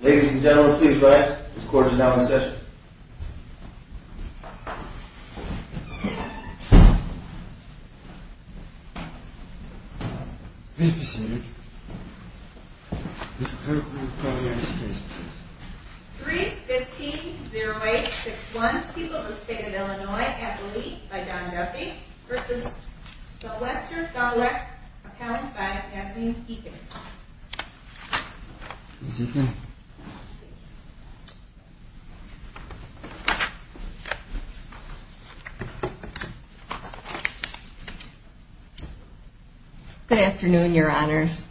Ladies and gentlemen, please rise. This court is now in session. 3-15-08-61, People of the State of Illinois, at the lead by Don Duffy v. Sylvester Gawlak, appellant by Yasmeen Eakin. Good afternoon, your honors.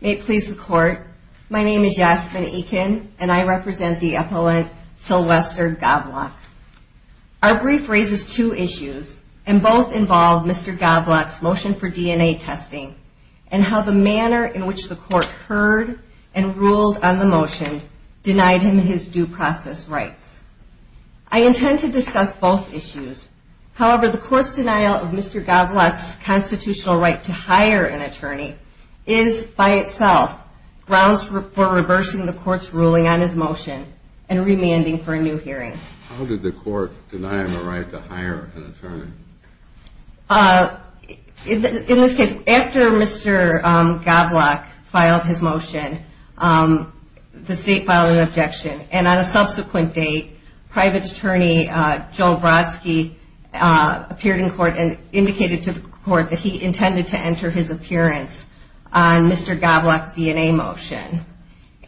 May it please the court, my name is Yasmeen Eakin, and I represent the appellant Sylvester Gawlak. Our brief raises two issues, and both involve Mr. Gawlak's motion for DNA testing and how the manner in which the court heard and ruled on the motion denied him his due process rights. I intend to discuss both issues. However, the court's denial of Mr. Gawlak's constitutional right to hire an attorney is by itself grounds for reversing the court's ruling on his motion and remanding for a new hearing. How did the court deny him the right to hire an attorney? In this case, after Mr. Gawlak filed his motion, the state filed an objection, and on a subsequent date, private attorney Joe Brodsky appeared in court and indicated to the court that he intended to enter his appearance on Mr. Gawlak's DNA motion.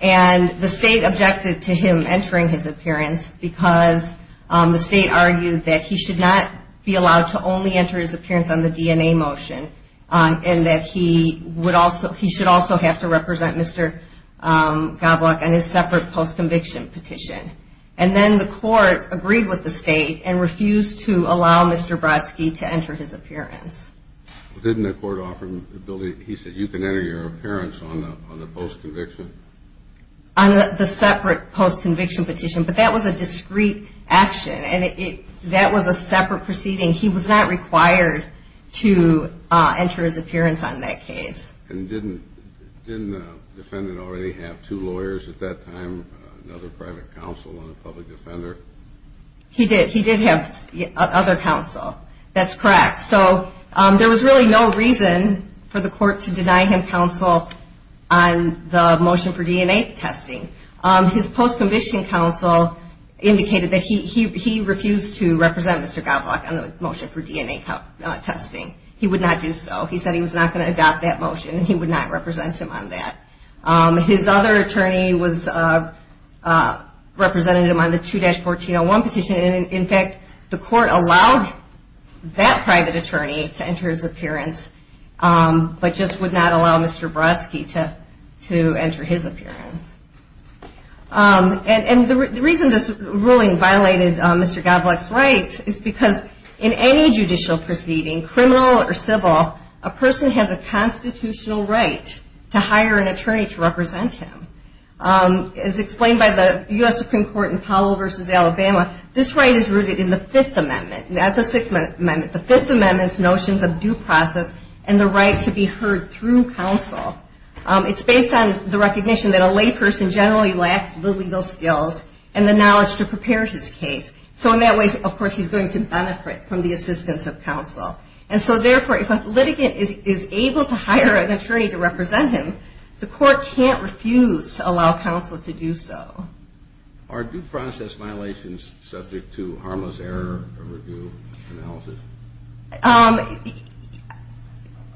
And the state objected to him entering his appearance because the state argued that he should not be allowed to only enter his appearance on the DNA motion, and that he should also have to represent Mr. Gawlak on his separate post-conviction petition. And then the court agreed with the state and refused to allow Mr. Brodsky to enter his appearance. Didn't the court offer him the ability, he said, you can enter your appearance on the post-conviction? On the separate post-conviction petition, but that was a discrete action, and that was a separate proceeding. He was not required to enter his appearance on that case. And didn't the defendant already have two lawyers at that time, another private counsel and a public defender? He did. He did have other counsel. That's correct. So there was really no reason for the court to deny him counsel on the motion for DNA testing. His post-conviction counsel indicated that he refused to represent Mr. Gawlak on the motion for DNA testing. He would not do so. He said he was not going to adopt that motion, and he would not represent him on that. His other attorney was representative on the 2-1401 petition, and in fact, the court allowed that private attorney to enter his appearance, but just would not allow Mr. Brodsky to enter his appearance. And the reason this ruling violated Mr. Gawlak's rights is because in any judicial proceeding, criminal or civil, a person has a constitutional right to hire an attorney to represent him. As explained by the U.S. Supreme Court in Powell v. Alabama, this right is rooted in the Fifth Amendment, not the Sixth Amendment. And the right to be heard through counsel, it's based on the recognition that a lay person generally lacks the legal skills and the knowledge to prepare his case. So in that way, of course, he's going to benefit from the assistance of counsel. And so therefore, if a litigant is able to hire an attorney to represent him, the court can't refuse to allow counsel to do so. Are due process violations subject to harmless error review analysis?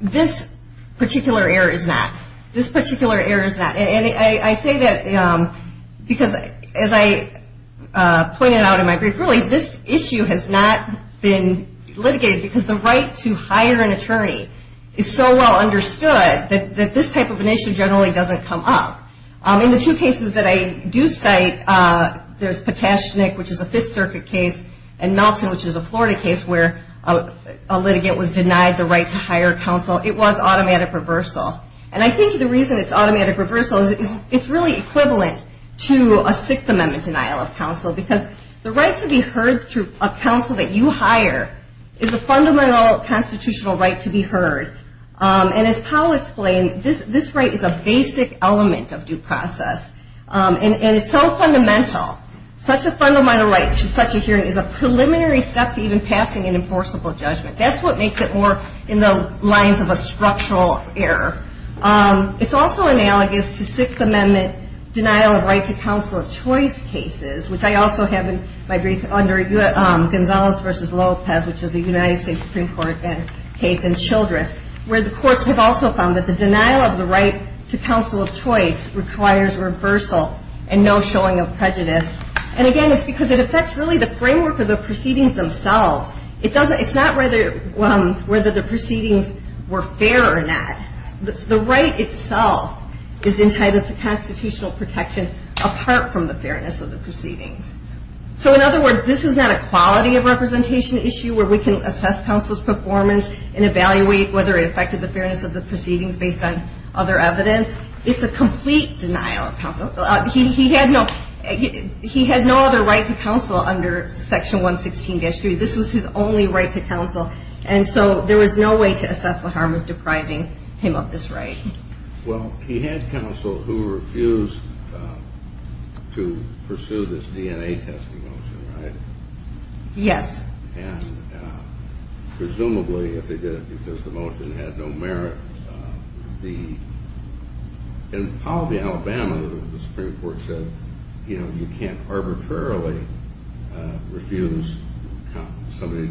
This particular error is not. This particular error is not. And I say that because as I pointed out in my brief, really this issue has not been litigated because the right to hire an attorney is so well understood that this type of an issue generally doesn't come up. In the two cases that I do cite, there's Patashnik, which is a Fifth Circuit case, and Melton, which is a Florida case where a litigant was denied the right to hire counsel. It was automatic reversal. And I think the reason it's automatic reversal is it's really equivalent to a Sixth Amendment denial of counsel because the right to be heard through a counsel that you hire is a fundamental constitutional right to be heard. And as Paul explained, this right is a basic element of due process. And it's so fundamental, such a fundamental right to such a hearing is a preliminary step to even passing an enforceable judgment. That's what makes it more in the lines of a structural error. It's also analogous to Sixth Amendment denial of right to counsel of choice cases, which I also have in my brief under Gonzales v. Lopez, which is a United States Supreme Court case in Childress, where the courts have also found that the denial of the right to counsel of choice requires reversal and no showing of prejudice. And again, it's because it affects really the framework of the proceedings themselves. It's not whether the proceedings were fair or not. The right itself is entitled to constitutional protection apart from the fairness of the proceedings. So in other words, this is not a quality of representation issue where we can assess counsel's performance and evaluate whether it affected the fairness of the proceedings based on other evidence. It's a complete denial of counsel. He had no other right to counsel under Section 116-3. This was his only right to counsel. And so there was no way to assess the harm of depriving him of this right. Well, he had counsel who refused to pursue this DNA testing motion, right? Yes. And presumably, if they did it because the motion had no merit, the – in Pallaby, Alabama, the Supreme Court said, you know, you can't arbitrarily refuse somebody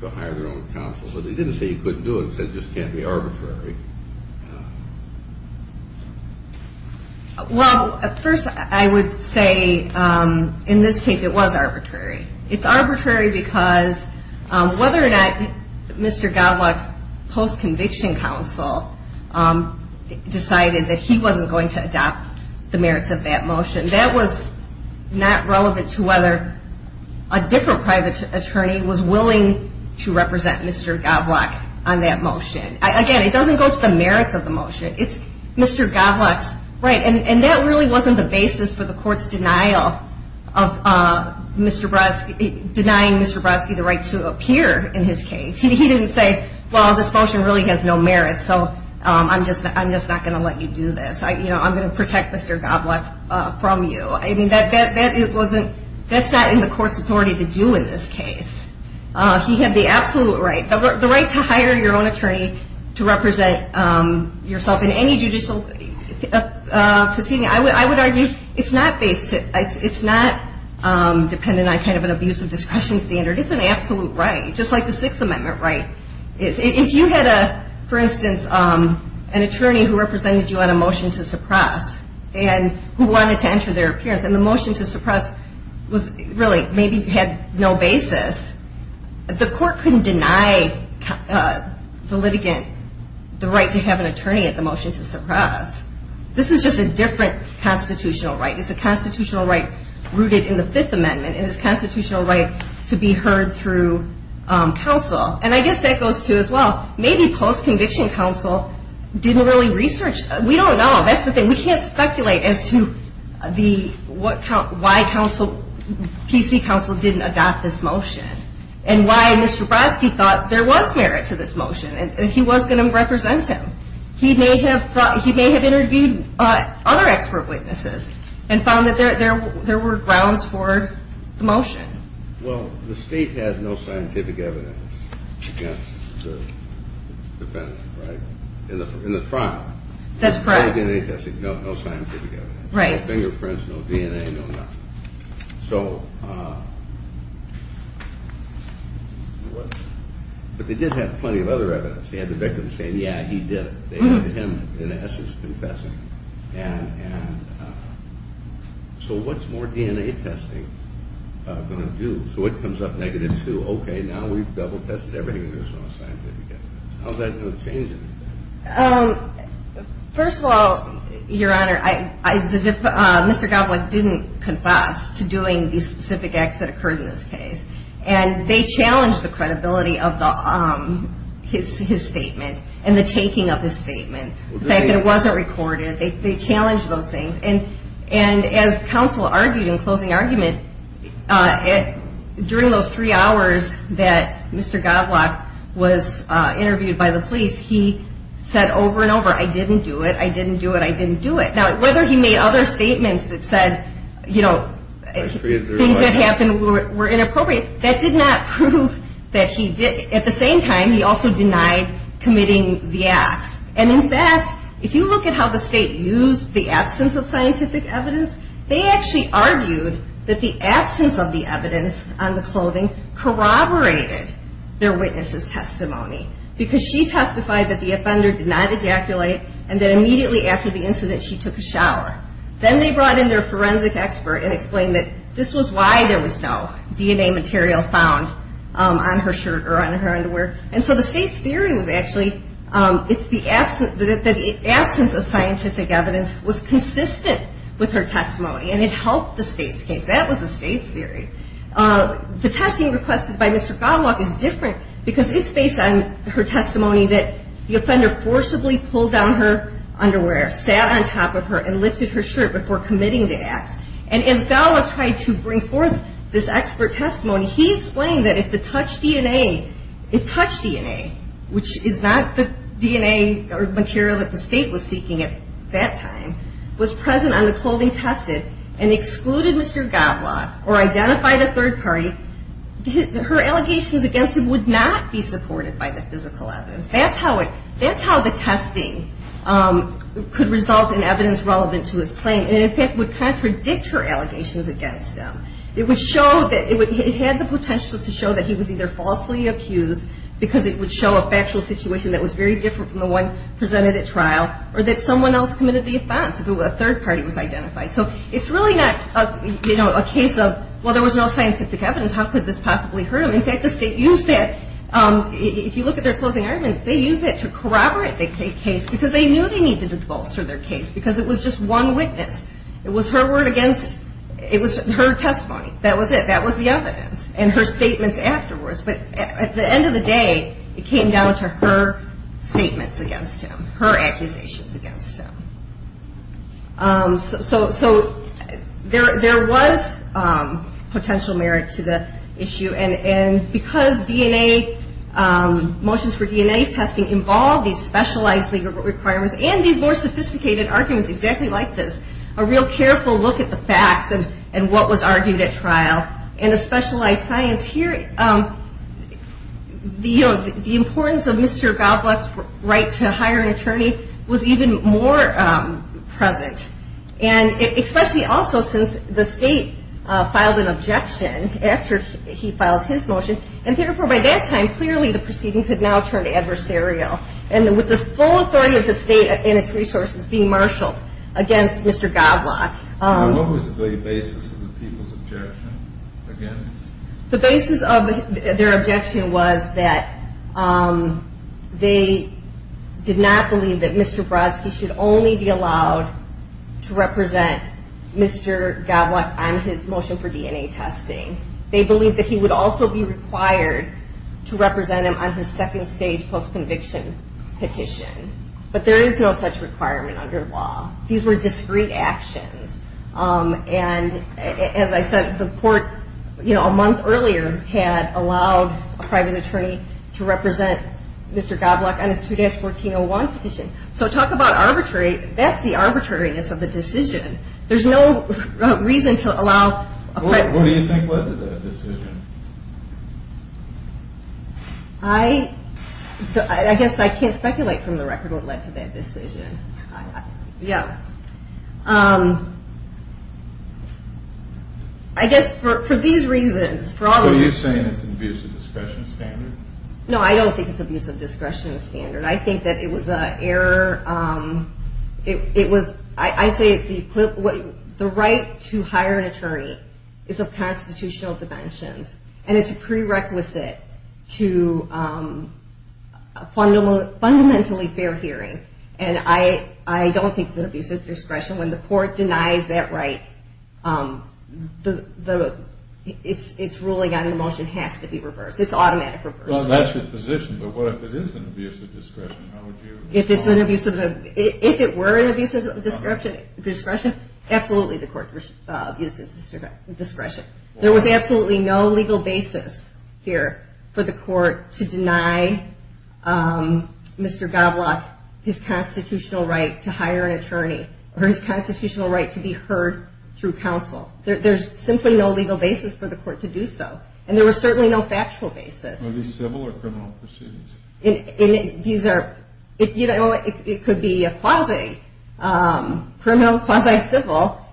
to hire their own counsel. But they didn't say you couldn't do it. They said it just can't be arbitrary. Well, first, I would say in this case, it was arbitrary. It's arbitrary because whether or not Mr. Goblock's post-conviction counsel decided that he wasn't going to adopt the merits of that motion, that was not relevant to whether a different private attorney was willing to represent Mr. Goblock on that motion. Again, it doesn't go to the merits of the motion. It's Mr. Goblock's – right, and that really wasn't the basis for the court's denial of Mr. Brodsky – denying Mr. Brodsky the right to appear in his case. He didn't say, well, this motion really has no merit, so I'm just not going to let you do this. You know, I'm going to protect Mr. Goblock from you. I mean, that wasn't – that's not in the court's authority to do in this case. He had the absolute right, the right to hire your own attorney to represent yourself in any judicial proceeding. I would argue it's not based – it's not dependent on kind of an abuse of discretion standard. It's an absolute right, just like the Sixth Amendment right is. If you had a – for instance, an attorney who represented you on a motion to suppress and who wanted to enter their appearance, and the motion to suppress was really – maybe had no basis, the court couldn't deny the litigant the right to have an attorney at the motion to suppress. This is just a different constitutional right. It's a constitutional right rooted in the Fifth Amendment, and it's a constitutional right to be heard through counsel. And I guess that goes to, as well, maybe post-conviction counsel didn't really research – we don't know. That's the thing. We can't speculate as to the – what – why counsel – PC counsel didn't adopt this motion and why Mr. Brodsky thought there was merit to this motion and he was going to represent him. He may have thought – he may have interviewed other expert witnesses and found that there were grounds for the motion. Well, the state has no scientific evidence against the defendant, right, in the trial. That's correct. No DNA testing, no scientific evidence. Right. No fingerprints, no DNA, no nothing. So – but they did have plenty of other evidence. They had the victim saying, yeah, he did it. They had him in essence confessing. And so what's more DNA testing going to do? So it comes up negative to, okay, now we've double-tested everything and there's no scientific evidence. How's that going to change anything? First of all, Your Honor, I – Mr. Goblock didn't confess to doing the specific acts that occurred in this case. And they challenged the credibility of the – his statement and the taking of his statement. The fact that it wasn't recorded. They challenged those things. And as counsel argued in closing argument, during those three hours that Mr. Goblock was interviewed by the police, he said over and over, I didn't do it, I didn't do it, I didn't do it. Now, whether he made other statements that said, you know, things that happened were inappropriate, that did not prove that he did – at the same time, he also denied committing the acts. And in fact, if you look at how the state used the absence of scientific evidence, they actually argued that the absence of the evidence on the clothing corroborated their witness's testimony. Because she testified that the offender did not ejaculate and that immediately after the incident, she took a shower. Then they brought in their forensic expert and explained that this was why there was no DNA material found on her shirt or on her underwear. And so the state's theory was actually, it's the absence – that the absence of scientific evidence was consistent with her testimony. And it helped the state's case. That was the state's theory. The testing requested by Mr. Goblock is different because it's based on her testimony that the offender forcibly pulled down her underwear, sat on top of her, and lifted her shirt before committing the acts. And as Goblock tried to bring forth this expert testimony, he explained that if the touch DNA – if touch DNA, which is not the DNA material that the state was seeking at that time, was present on the clothing tested and excluded Mr. Goblock or identified a third party, her allegations against him would not be supported by the physical evidence. That's how it – that's how the testing could result in evidence relevant to his claim and in fact would contradict her allegations against him. It would show that – it had the potential to show that he was either falsely accused because it would show a factual situation that was very different from the one presented at trial or that someone else committed the offense if a third party was identified. So it's really not a case of, well, there was no scientific evidence. How could this possibly hurt him? In fact, the state used that – if you look at their closing arguments, they used that to corroborate the case because they knew they needed to bolster their case because it was just one witness. It was her word against – it was her testimony. That was it. That was the evidence. And her statements afterwards. But at the end of the day, it came down to her statements against him, her accusations against him. So there was potential merit to the issue. And because DNA – motions for DNA testing involved these specialized legal requirements and these more sophisticated arguments exactly like this, a real careful look at the facts and what was argued at trial and a specialized science. The importance of Mr. Goblock's right to hire an attorney was even more present. And especially also since the state filed an objection after he filed his motion. And therefore, by that time, clearly the proceedings had now turned adversarial. And with the full authority of the state and its resources being marshaled against Mr. Goblock. And what was the basis of the people's objection against? Mr. Goblock on his motion for DNA testing. They believed that he would also be required to represent him on his second stage post-conviction petition. But there is no such requirement under law. These were discrete actions. And as I said, the court a month earlier had allowed a private attorney to represent Mr. Goblock on his 2-1401 petition. So talk about arbitrary – that's the arbitrariness of the decision. There's no reason to allow a private attorney. What do you think led to that decision? I – I guess I can't speculate from the record what led to that decision. Yeah. I guess for these reasons – So you're saying it's an abuse of discretion standard? No, I don't think it's abuse of discretion standard. I think that it was an error. It was – I say it's the – the right to hire an attorney is of constitutional dimensions. And it's a prerequisite to a fundamentally fair hearing. And I – I don't think it's an abuse of discretion. When the court denies that right, the – it's ruling on the motion has to be reversed. It's automatic reverse. Well, that's your position. But what if it is an abuse of discretion? How would you – Or his constitutional right to hire an attorney. Or his constitutional right to be heard through counsel. There's simply no legal basis for the court to do so. And there was certainly no factual basis. Are these civil or criminal proceedings? These are – you know, it could be a quasi-criminal, quasi-civil.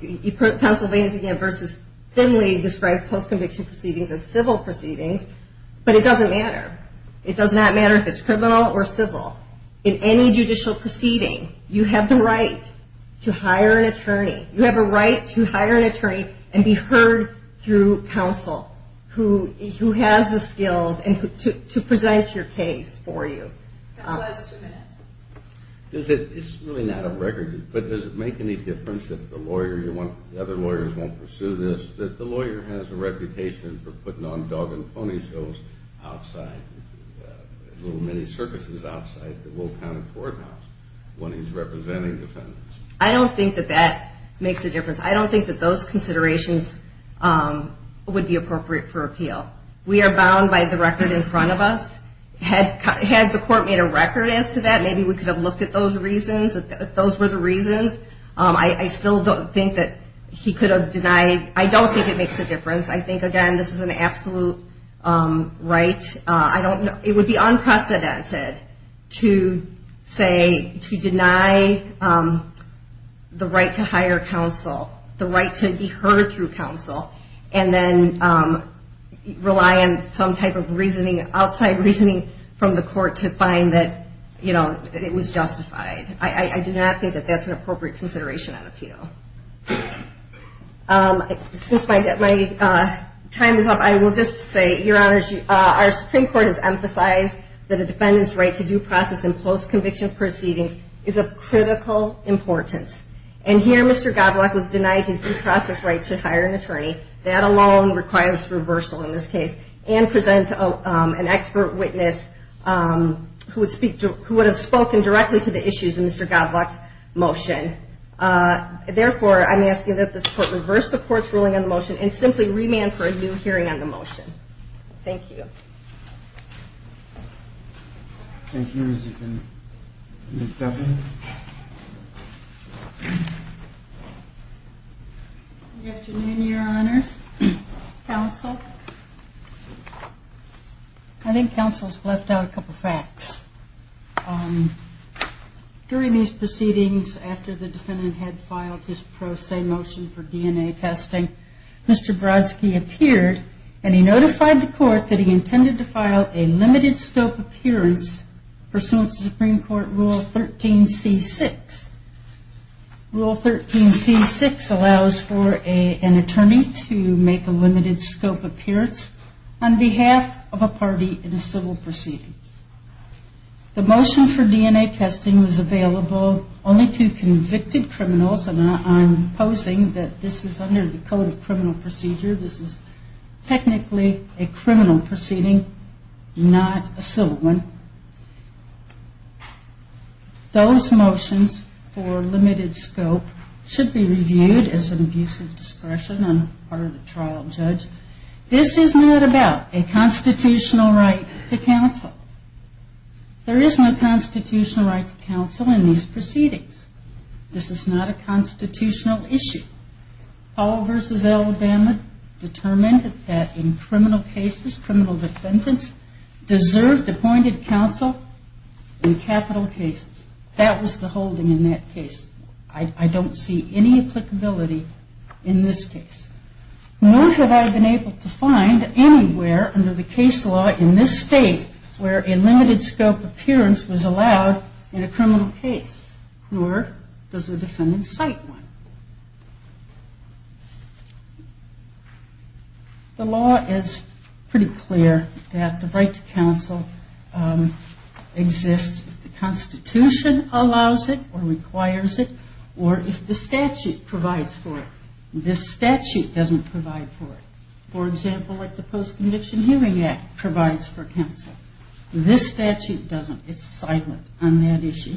You put Pennsylvania's again versus Finley described post-conviction proceedings as civil proceedings. But it doesn't matter. It does not matter if it's criminal or civil. In any judicial proceeding, you have the right to hire an attorney. You have a right to hire an attorney and be heard through counsel who has the skills and who – to present your case for you. Counsel has two minutes. Does it – it's really not a record. But does it make any difference if the lawyer you want – the other lawyers won't pursue this, that the lawyer has a reputation for putting on dog and pony shows outside – little mini-circuses outside the Will County Courthouse when he's representing defendants? I don't think that that makes a difference. I don't think that those considerations would be appropriate for appeal. We are bound by the record in front of us. Had the court made a record as to that, maybe we could have looked at those reasons, if those were the reasons. I still don't think that he could have denied – I don't think it makes a difference. I think, again, this is an absolute right. I don't – it would be unprecedented to say – to deny the right to hire counsel, the right to be heard through counsel, and then rely on some type of reasoning – outside reasoning from the court to find that, you know, it was justified. I do not think that that's an appropriate consideration on appeal. Since my time is up, I will just say, Your Honors, our Supreme Court has emphasized that a defendant's right to due process in post-conviction proceedings is of critical importance. And here, Mr. Godlock was denied his due process right to hire an attorney. That alone requires reversal in this case and presents an expert witness who would have spoken directly to the issues in Mr. Godlock's motion. Therefore, I'm asking that this Court reverse the Court's ruling on the motion and simply remand for a new hearing on the motion. Thank you. Thank you. Good afternoon, Your Honors. Counsel. I think counsel's left out a couple facts. During these proceedings, after the defendant had filed his pro se motion for DNA testing, Mr. Brodsky appeared and he notified the Court that he intended to file a limited scope appearance pursuant to Supreme Court Rule 13c6. Rule 13c6 allows for an attorney to make a limited scope appearance on behalf of a party in a civil proceeding. The motion for DNA testing was available only to convicted criminals. And I'm posing that this is under the Code of Criminal Procedure. This is technically a criminal proceeding, not a civil one. Those motions for limited scope should be reviewed as an abuse of discretion on the part of the trial judge. This is not about a constitutional right to counsel. There is no constitutional right to counsel in these proceedings. This is not a constitutional issue. In the case of Paul v. Alabama, determined that in criminal cases, criminal defendants deserved appointed counsel in capital cases. That was the holding in that case. I don't see any applicability in this case. Nor have I been able to find anywhere under the case law in this state where a limited scope appearance was allowed in a criminal case, nor does the defendant cite one. The law is pretty clear that the right to counsel exists if the Constitution allows it or requires it, or if the statute provides for it. This statute doesn't provide for it, for example, like the Post-Conviction Hearing Act provides for counsel. This statute doesn't. It's silent on that issue.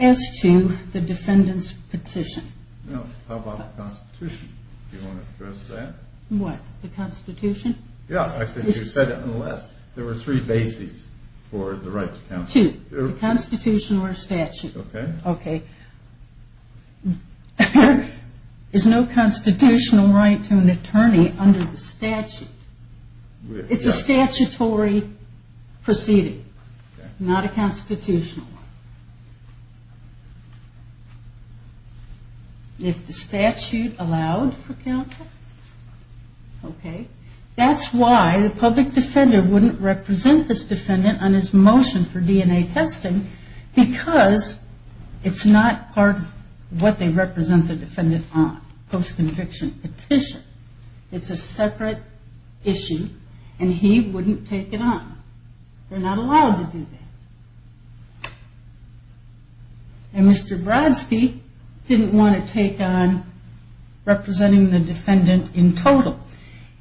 As to the defendant's petition. Well, how about the Constitution? Do you want to address that? What? The Constitution? Yeah, I think you said it in the last. There were three bases for the right to counsel. Two. The Constitution or statute. Okay. There is no constitutional right to an attorney under the statute. It's a statutory proceeding, not a constitutional one. If the statute allowed for counsel. Okay. That's why the public defender wouldn't represent this defendant on his motion for DNA testing because it's not part of what they represent the defendant on, post-conviction petition. It's a separate issue and he wouldn't take it on. They're not allowed to do that. And Mr. Brodsky didn't want to take on representing the defendant in total.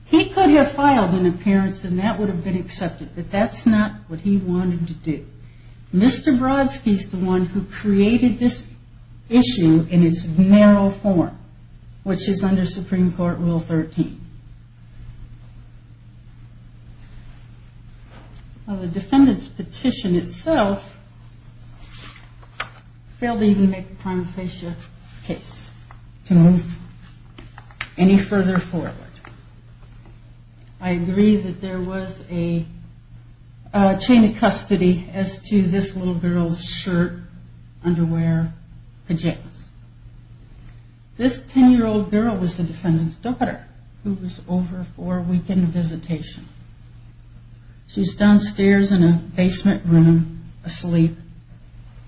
He could have filed an appearance and that would have been accepted, but that's not what he wanted to do. Mr. Brodsky is the one who created this issue in its narrow form, which is under Supreme Court Rule 13. The defendant's petition itself failed to even make a prima facie case to move any further forward. I agree that there was a chain of custody as to this little girl's shirt, underwear, pajamas. This 10-year-old girl was the defendant's daughter who was over for a weekend visitation. She was downstairs in a basement room asleep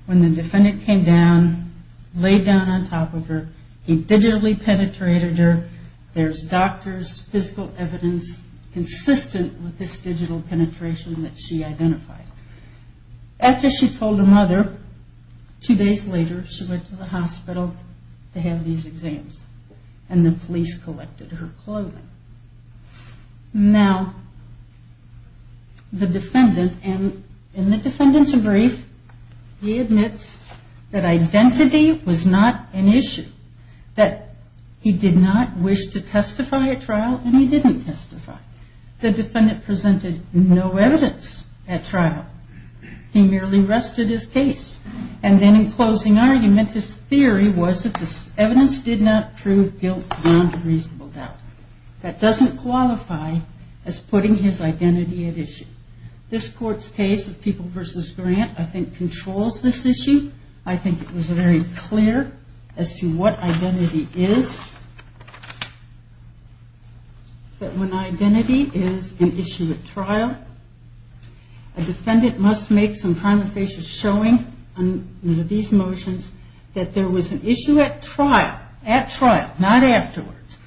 when the defendant came down, laid down on top of her. He digitally penetrated her. There's doctors, physical evidence consistent with this digital penetration that she identified. After she told her mother, two days later she went to the hospital to have these exams and the police collected her clothing. Now, the defendant, and the defendant's brief, he admits that identity was not an issue. That he did not wish to testify at trial and he didn't testify. The defendant presented no evidence at trial. He merely rested his case, and then in closing argument, his theory was that this evidence did not prove guilt beyond reasonable doubt. That doesn't qualify as putting his identity at issue. This Court's case of People v. Grant, I think, controls this issue. I think it was very clear as to what identity is. That when identity is an issue at trial, a defendant must make some prima facie showing under these motions that there was an issue at trial, at trial, not afterwards,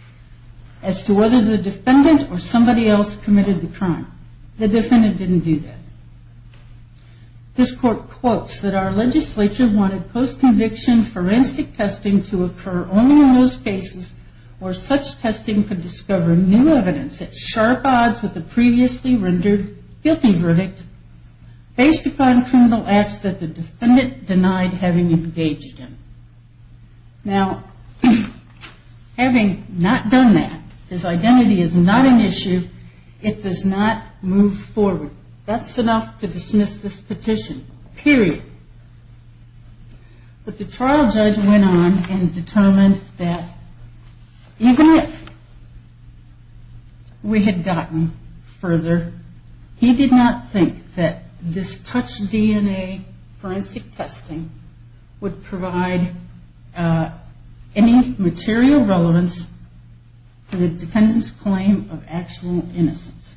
as to whether the defendant or somebody else committed the crime. The defendant didn't do that. This Court quotes that our legislature wanted post-conviction forensic testing to occur only in those cases where such testing could discover new evidence at sharp odds with the previously rendered guilty verdict based upon criminal acts that the defendant denied having engaged in. Now, having not done that, his identity is not an issue, it does not move forward. That's enough to dismiss this petition, period. But the trial judge went on and determined that even if we had gotten further, he did not think that this touch DNA forensic testing would provide any material relevance to the defendant's claim of actual innocence,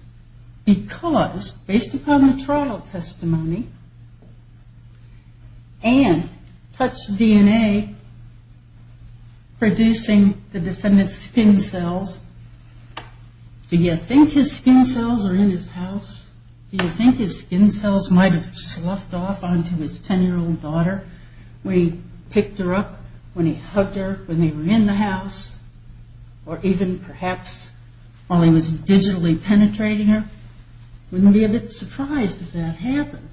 because based upon the trial testimony and touch DNA producing the defendant's skin cells, do you think his skin cells are in his house? Do you think his skin cells might have sloughed off onto his 10-year-old daughter when he picked her up, when he hugged her, when they were in the house, or even perhaps while he was digitally penetrating her? Wouldn't be a bit surprised if that happened.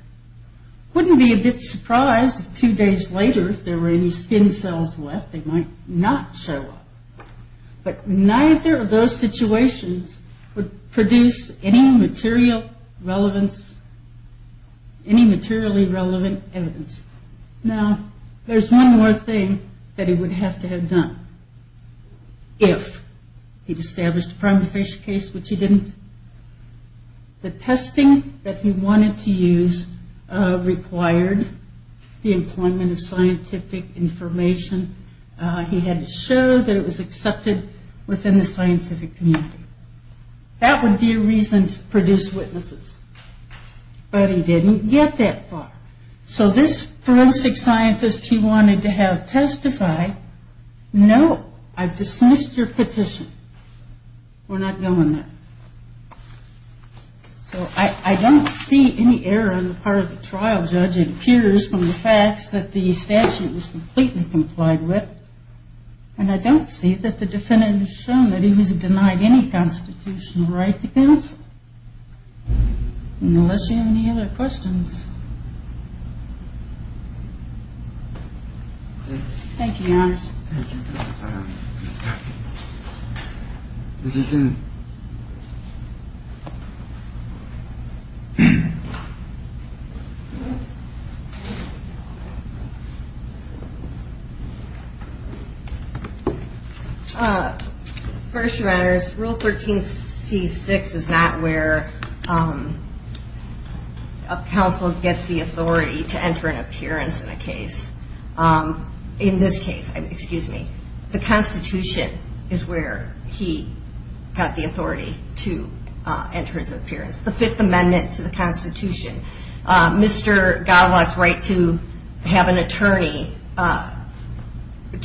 Wouldn't be a bit surprised if two days later if there were any skin cells left, they might not show up. But neither of those situations would produce any material relevance, any materially relevant evidence. Now, there's one more thing that he would have to have done if he'd established a prima facie case, which he didn't. The testing that he wanted to use required the employment of scientific information. He had to show that it was accepted within the scientific community. That would be a reason to produce witnesses. But he didn't get that far. So this forensic scientist he wanted to have testify, no, I've dismissed your petition. We're not going there. So I don't see any error on the part of the trial judge. It appears from the facts that the statute was completely complied with. And I don't see that the defendant has shown that he was denied any constitutional right to counsel. Unless you have any other questions. Thank you, Your Honor. Mr. Kennedy. First, Your Honors, Rule 13C-6 is not where a counsel gets the authority to enter an appearance in a case. In this case, excuse me, the Constitution is where he got the authority to enter his appearance. The Fifth Amendment to the Constitution. Mr. Goblock's right to have an attorney, to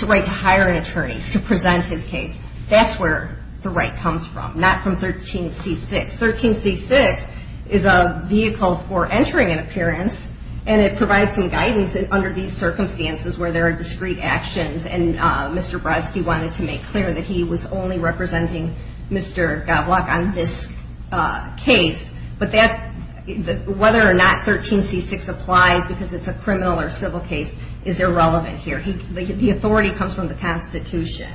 hire an attorney to present his case. That's where the right comes from, not from 13C-6. 13C-6 is a vehicle for entering an appearance, and it provides some guidance under these circumstances where there are discrete actions. And Mr. Brodsky wanted to make clear that he was only representing Mr. Goblock on this case. But whether or not 13C-6 applies because it's a criminal or civil case is irrelevant here. The authority comes from the Constitution,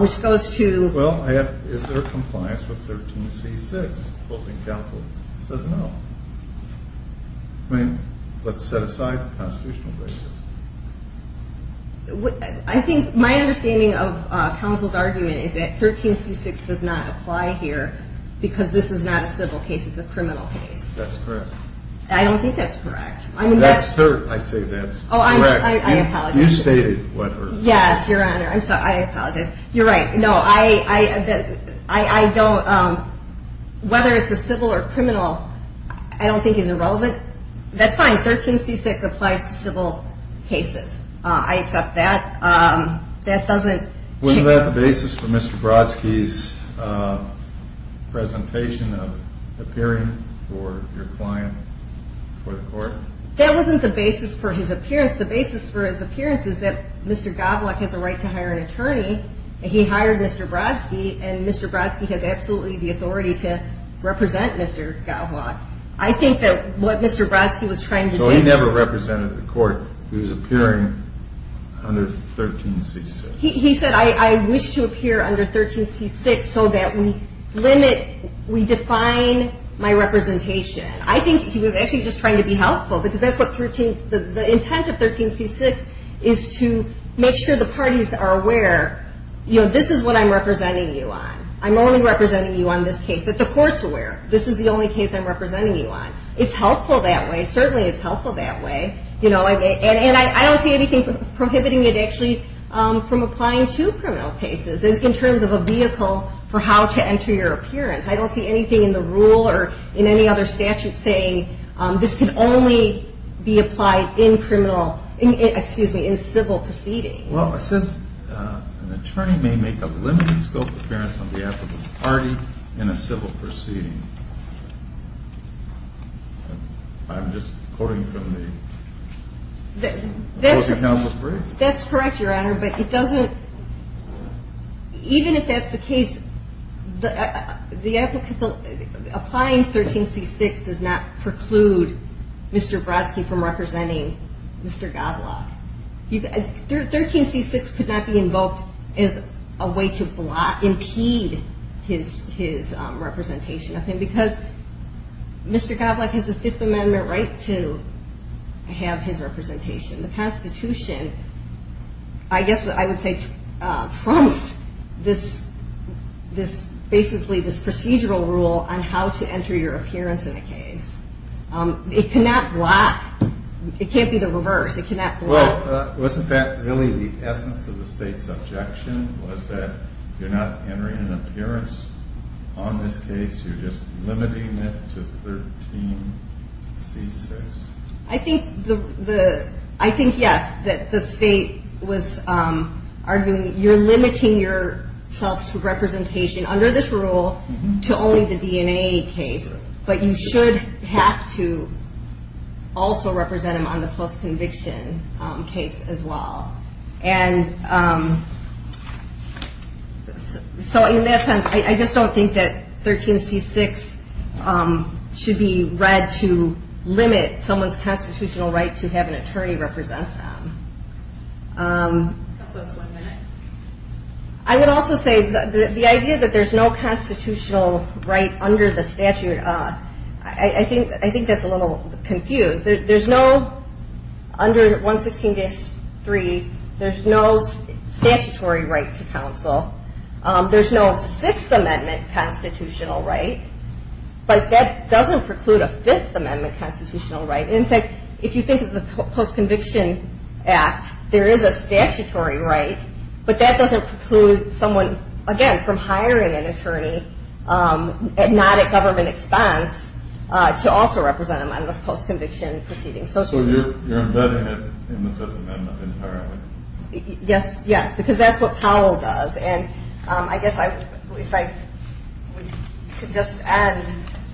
which goes to... Well, is there compliance with 13C-6? I mean, let's set aside the constitutional right. I think my understanding of counsel's argument is that 13C-6 does not apply here because this is not a civil case. It's a criminal case. That's correct. I don't think that's correct. Whether it's a civil or criminal, I don't think is irrelevant. That's fine. 13C-6 applies to civil cases. I accept that. Wasn't that the basis for Mr. Brodsky's presentation of appearing for your client for the court? That wasn't the basis for his appearance. The basis for his appearance is that Mr. Goblock has a right to hire an attorney, and he hired Mr. Brodsky, and Mr. Brodsky has absolutely the authority to represent Mr. Goblock. I think that what Mr. Brodsky was trying to do... So he never represented the court. He was appearing under 13C-6. He said, I wish to appear under 13C-6 so that we limit, we define my representation. I think he was actually just trying to be helpful because that's what 13... The intent of 13C-6 is to make sure the parties are aware, you know, this is what I'm representing you on. I'm only representing you on this case that the court's aware. This is the only case I'm representing you on. It's helpful that way. Certainly it's helpful that way. And I don't see anything prohibiting it actually from applying to criminal cases in terms of a vehicle for how to enter your appearance. I don't see anything in the rule or in any other statute saying this can only be applied in criminal, excuse me, in civil proceedings. Well, it says an attorney may make a limited scope appearance on behalf of the party in a civil proceeding. I'm just quoting from the... That's correct, Your Honor, but it doesn't... Even if that's the case, applying 13C-6 does not preclude Mr. Brodsky from representing Mr. Goblock. 13C-6 could not be invoked as a way to block, impede his representation of him because Mr. Goblock has a Fifth Amendment right to have his representation. The Constitution, I guess I would say trumps this basically this procedural rule on how to enter your appearance in a case. It cannot block. It can't be the reverse. It cannot block. Well, wasn't that really the essence of the State's objection was that you're not entering an appearance on this case, you're just limiting it to 13C-6? I think yes, that the State was arguing you're limiting yourself to representation under this rule to only the DNA case, but you should have to also represent him on the post-conviction case as well. And so in that sense, I just don't think that 13C-6 should be read to counsel. I would also say the idea that there's no constitutional right under the statute, I think that's a little confused. There's no, under 116-3, there's no statutory right to counsel. There's no Sixth Amendment constitutional right, but that doesn't preclude a Fifth Amendment constitutional right. In fact, if you think of the Post-Conviction Act, there is a statutory right, but that doesn't preclude someone, again, from hiring an attorney, not at government expense, to also represent them on the post-conviction proceeding. So you're embedding it in the Fifth Amendment entirely. Yes, yes, because that's what Powell does, and I guess if I could just add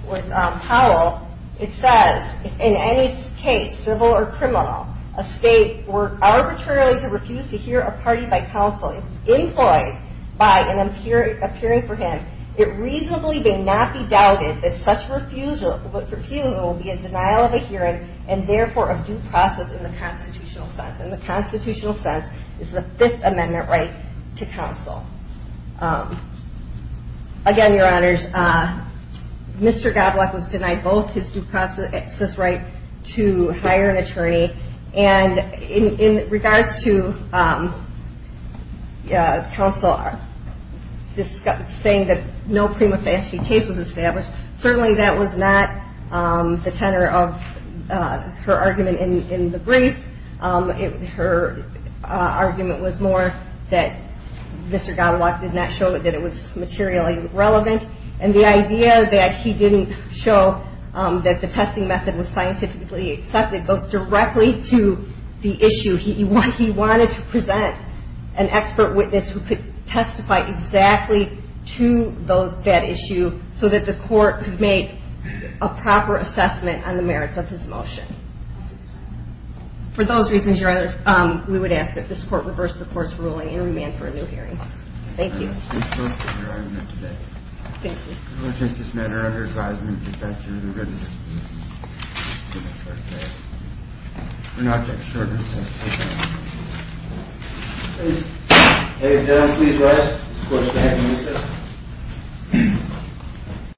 with Powell, it says, in any case, civil or criminal, a state were arbitrarily to refuse to hear a party by counsel employed by an appearing for him, it reasonably may not be doubted that such refusal will be a denial of a hearing, and therefore a due process in the constitutional sense. And the again, Your Honors, Mr. Godlock was denied both his due process right to hire an attorney, and in regards to counsel saying that no prima facie case was established, certainly that was not the tenor of her argument in the brief. Her argument was more that Mr. Godlock did not show that it was materially relevant, and the idea that he didn't show that the testing method was scientifically accepted goes directly to the issue. He wanted to present an expert witness who could testify exactly to that issue so that the court could make a proper assessment on the merits of his motion. For those reasons, we would ask that this court reverse the court's ruling and remand for a new hearing. Thank you.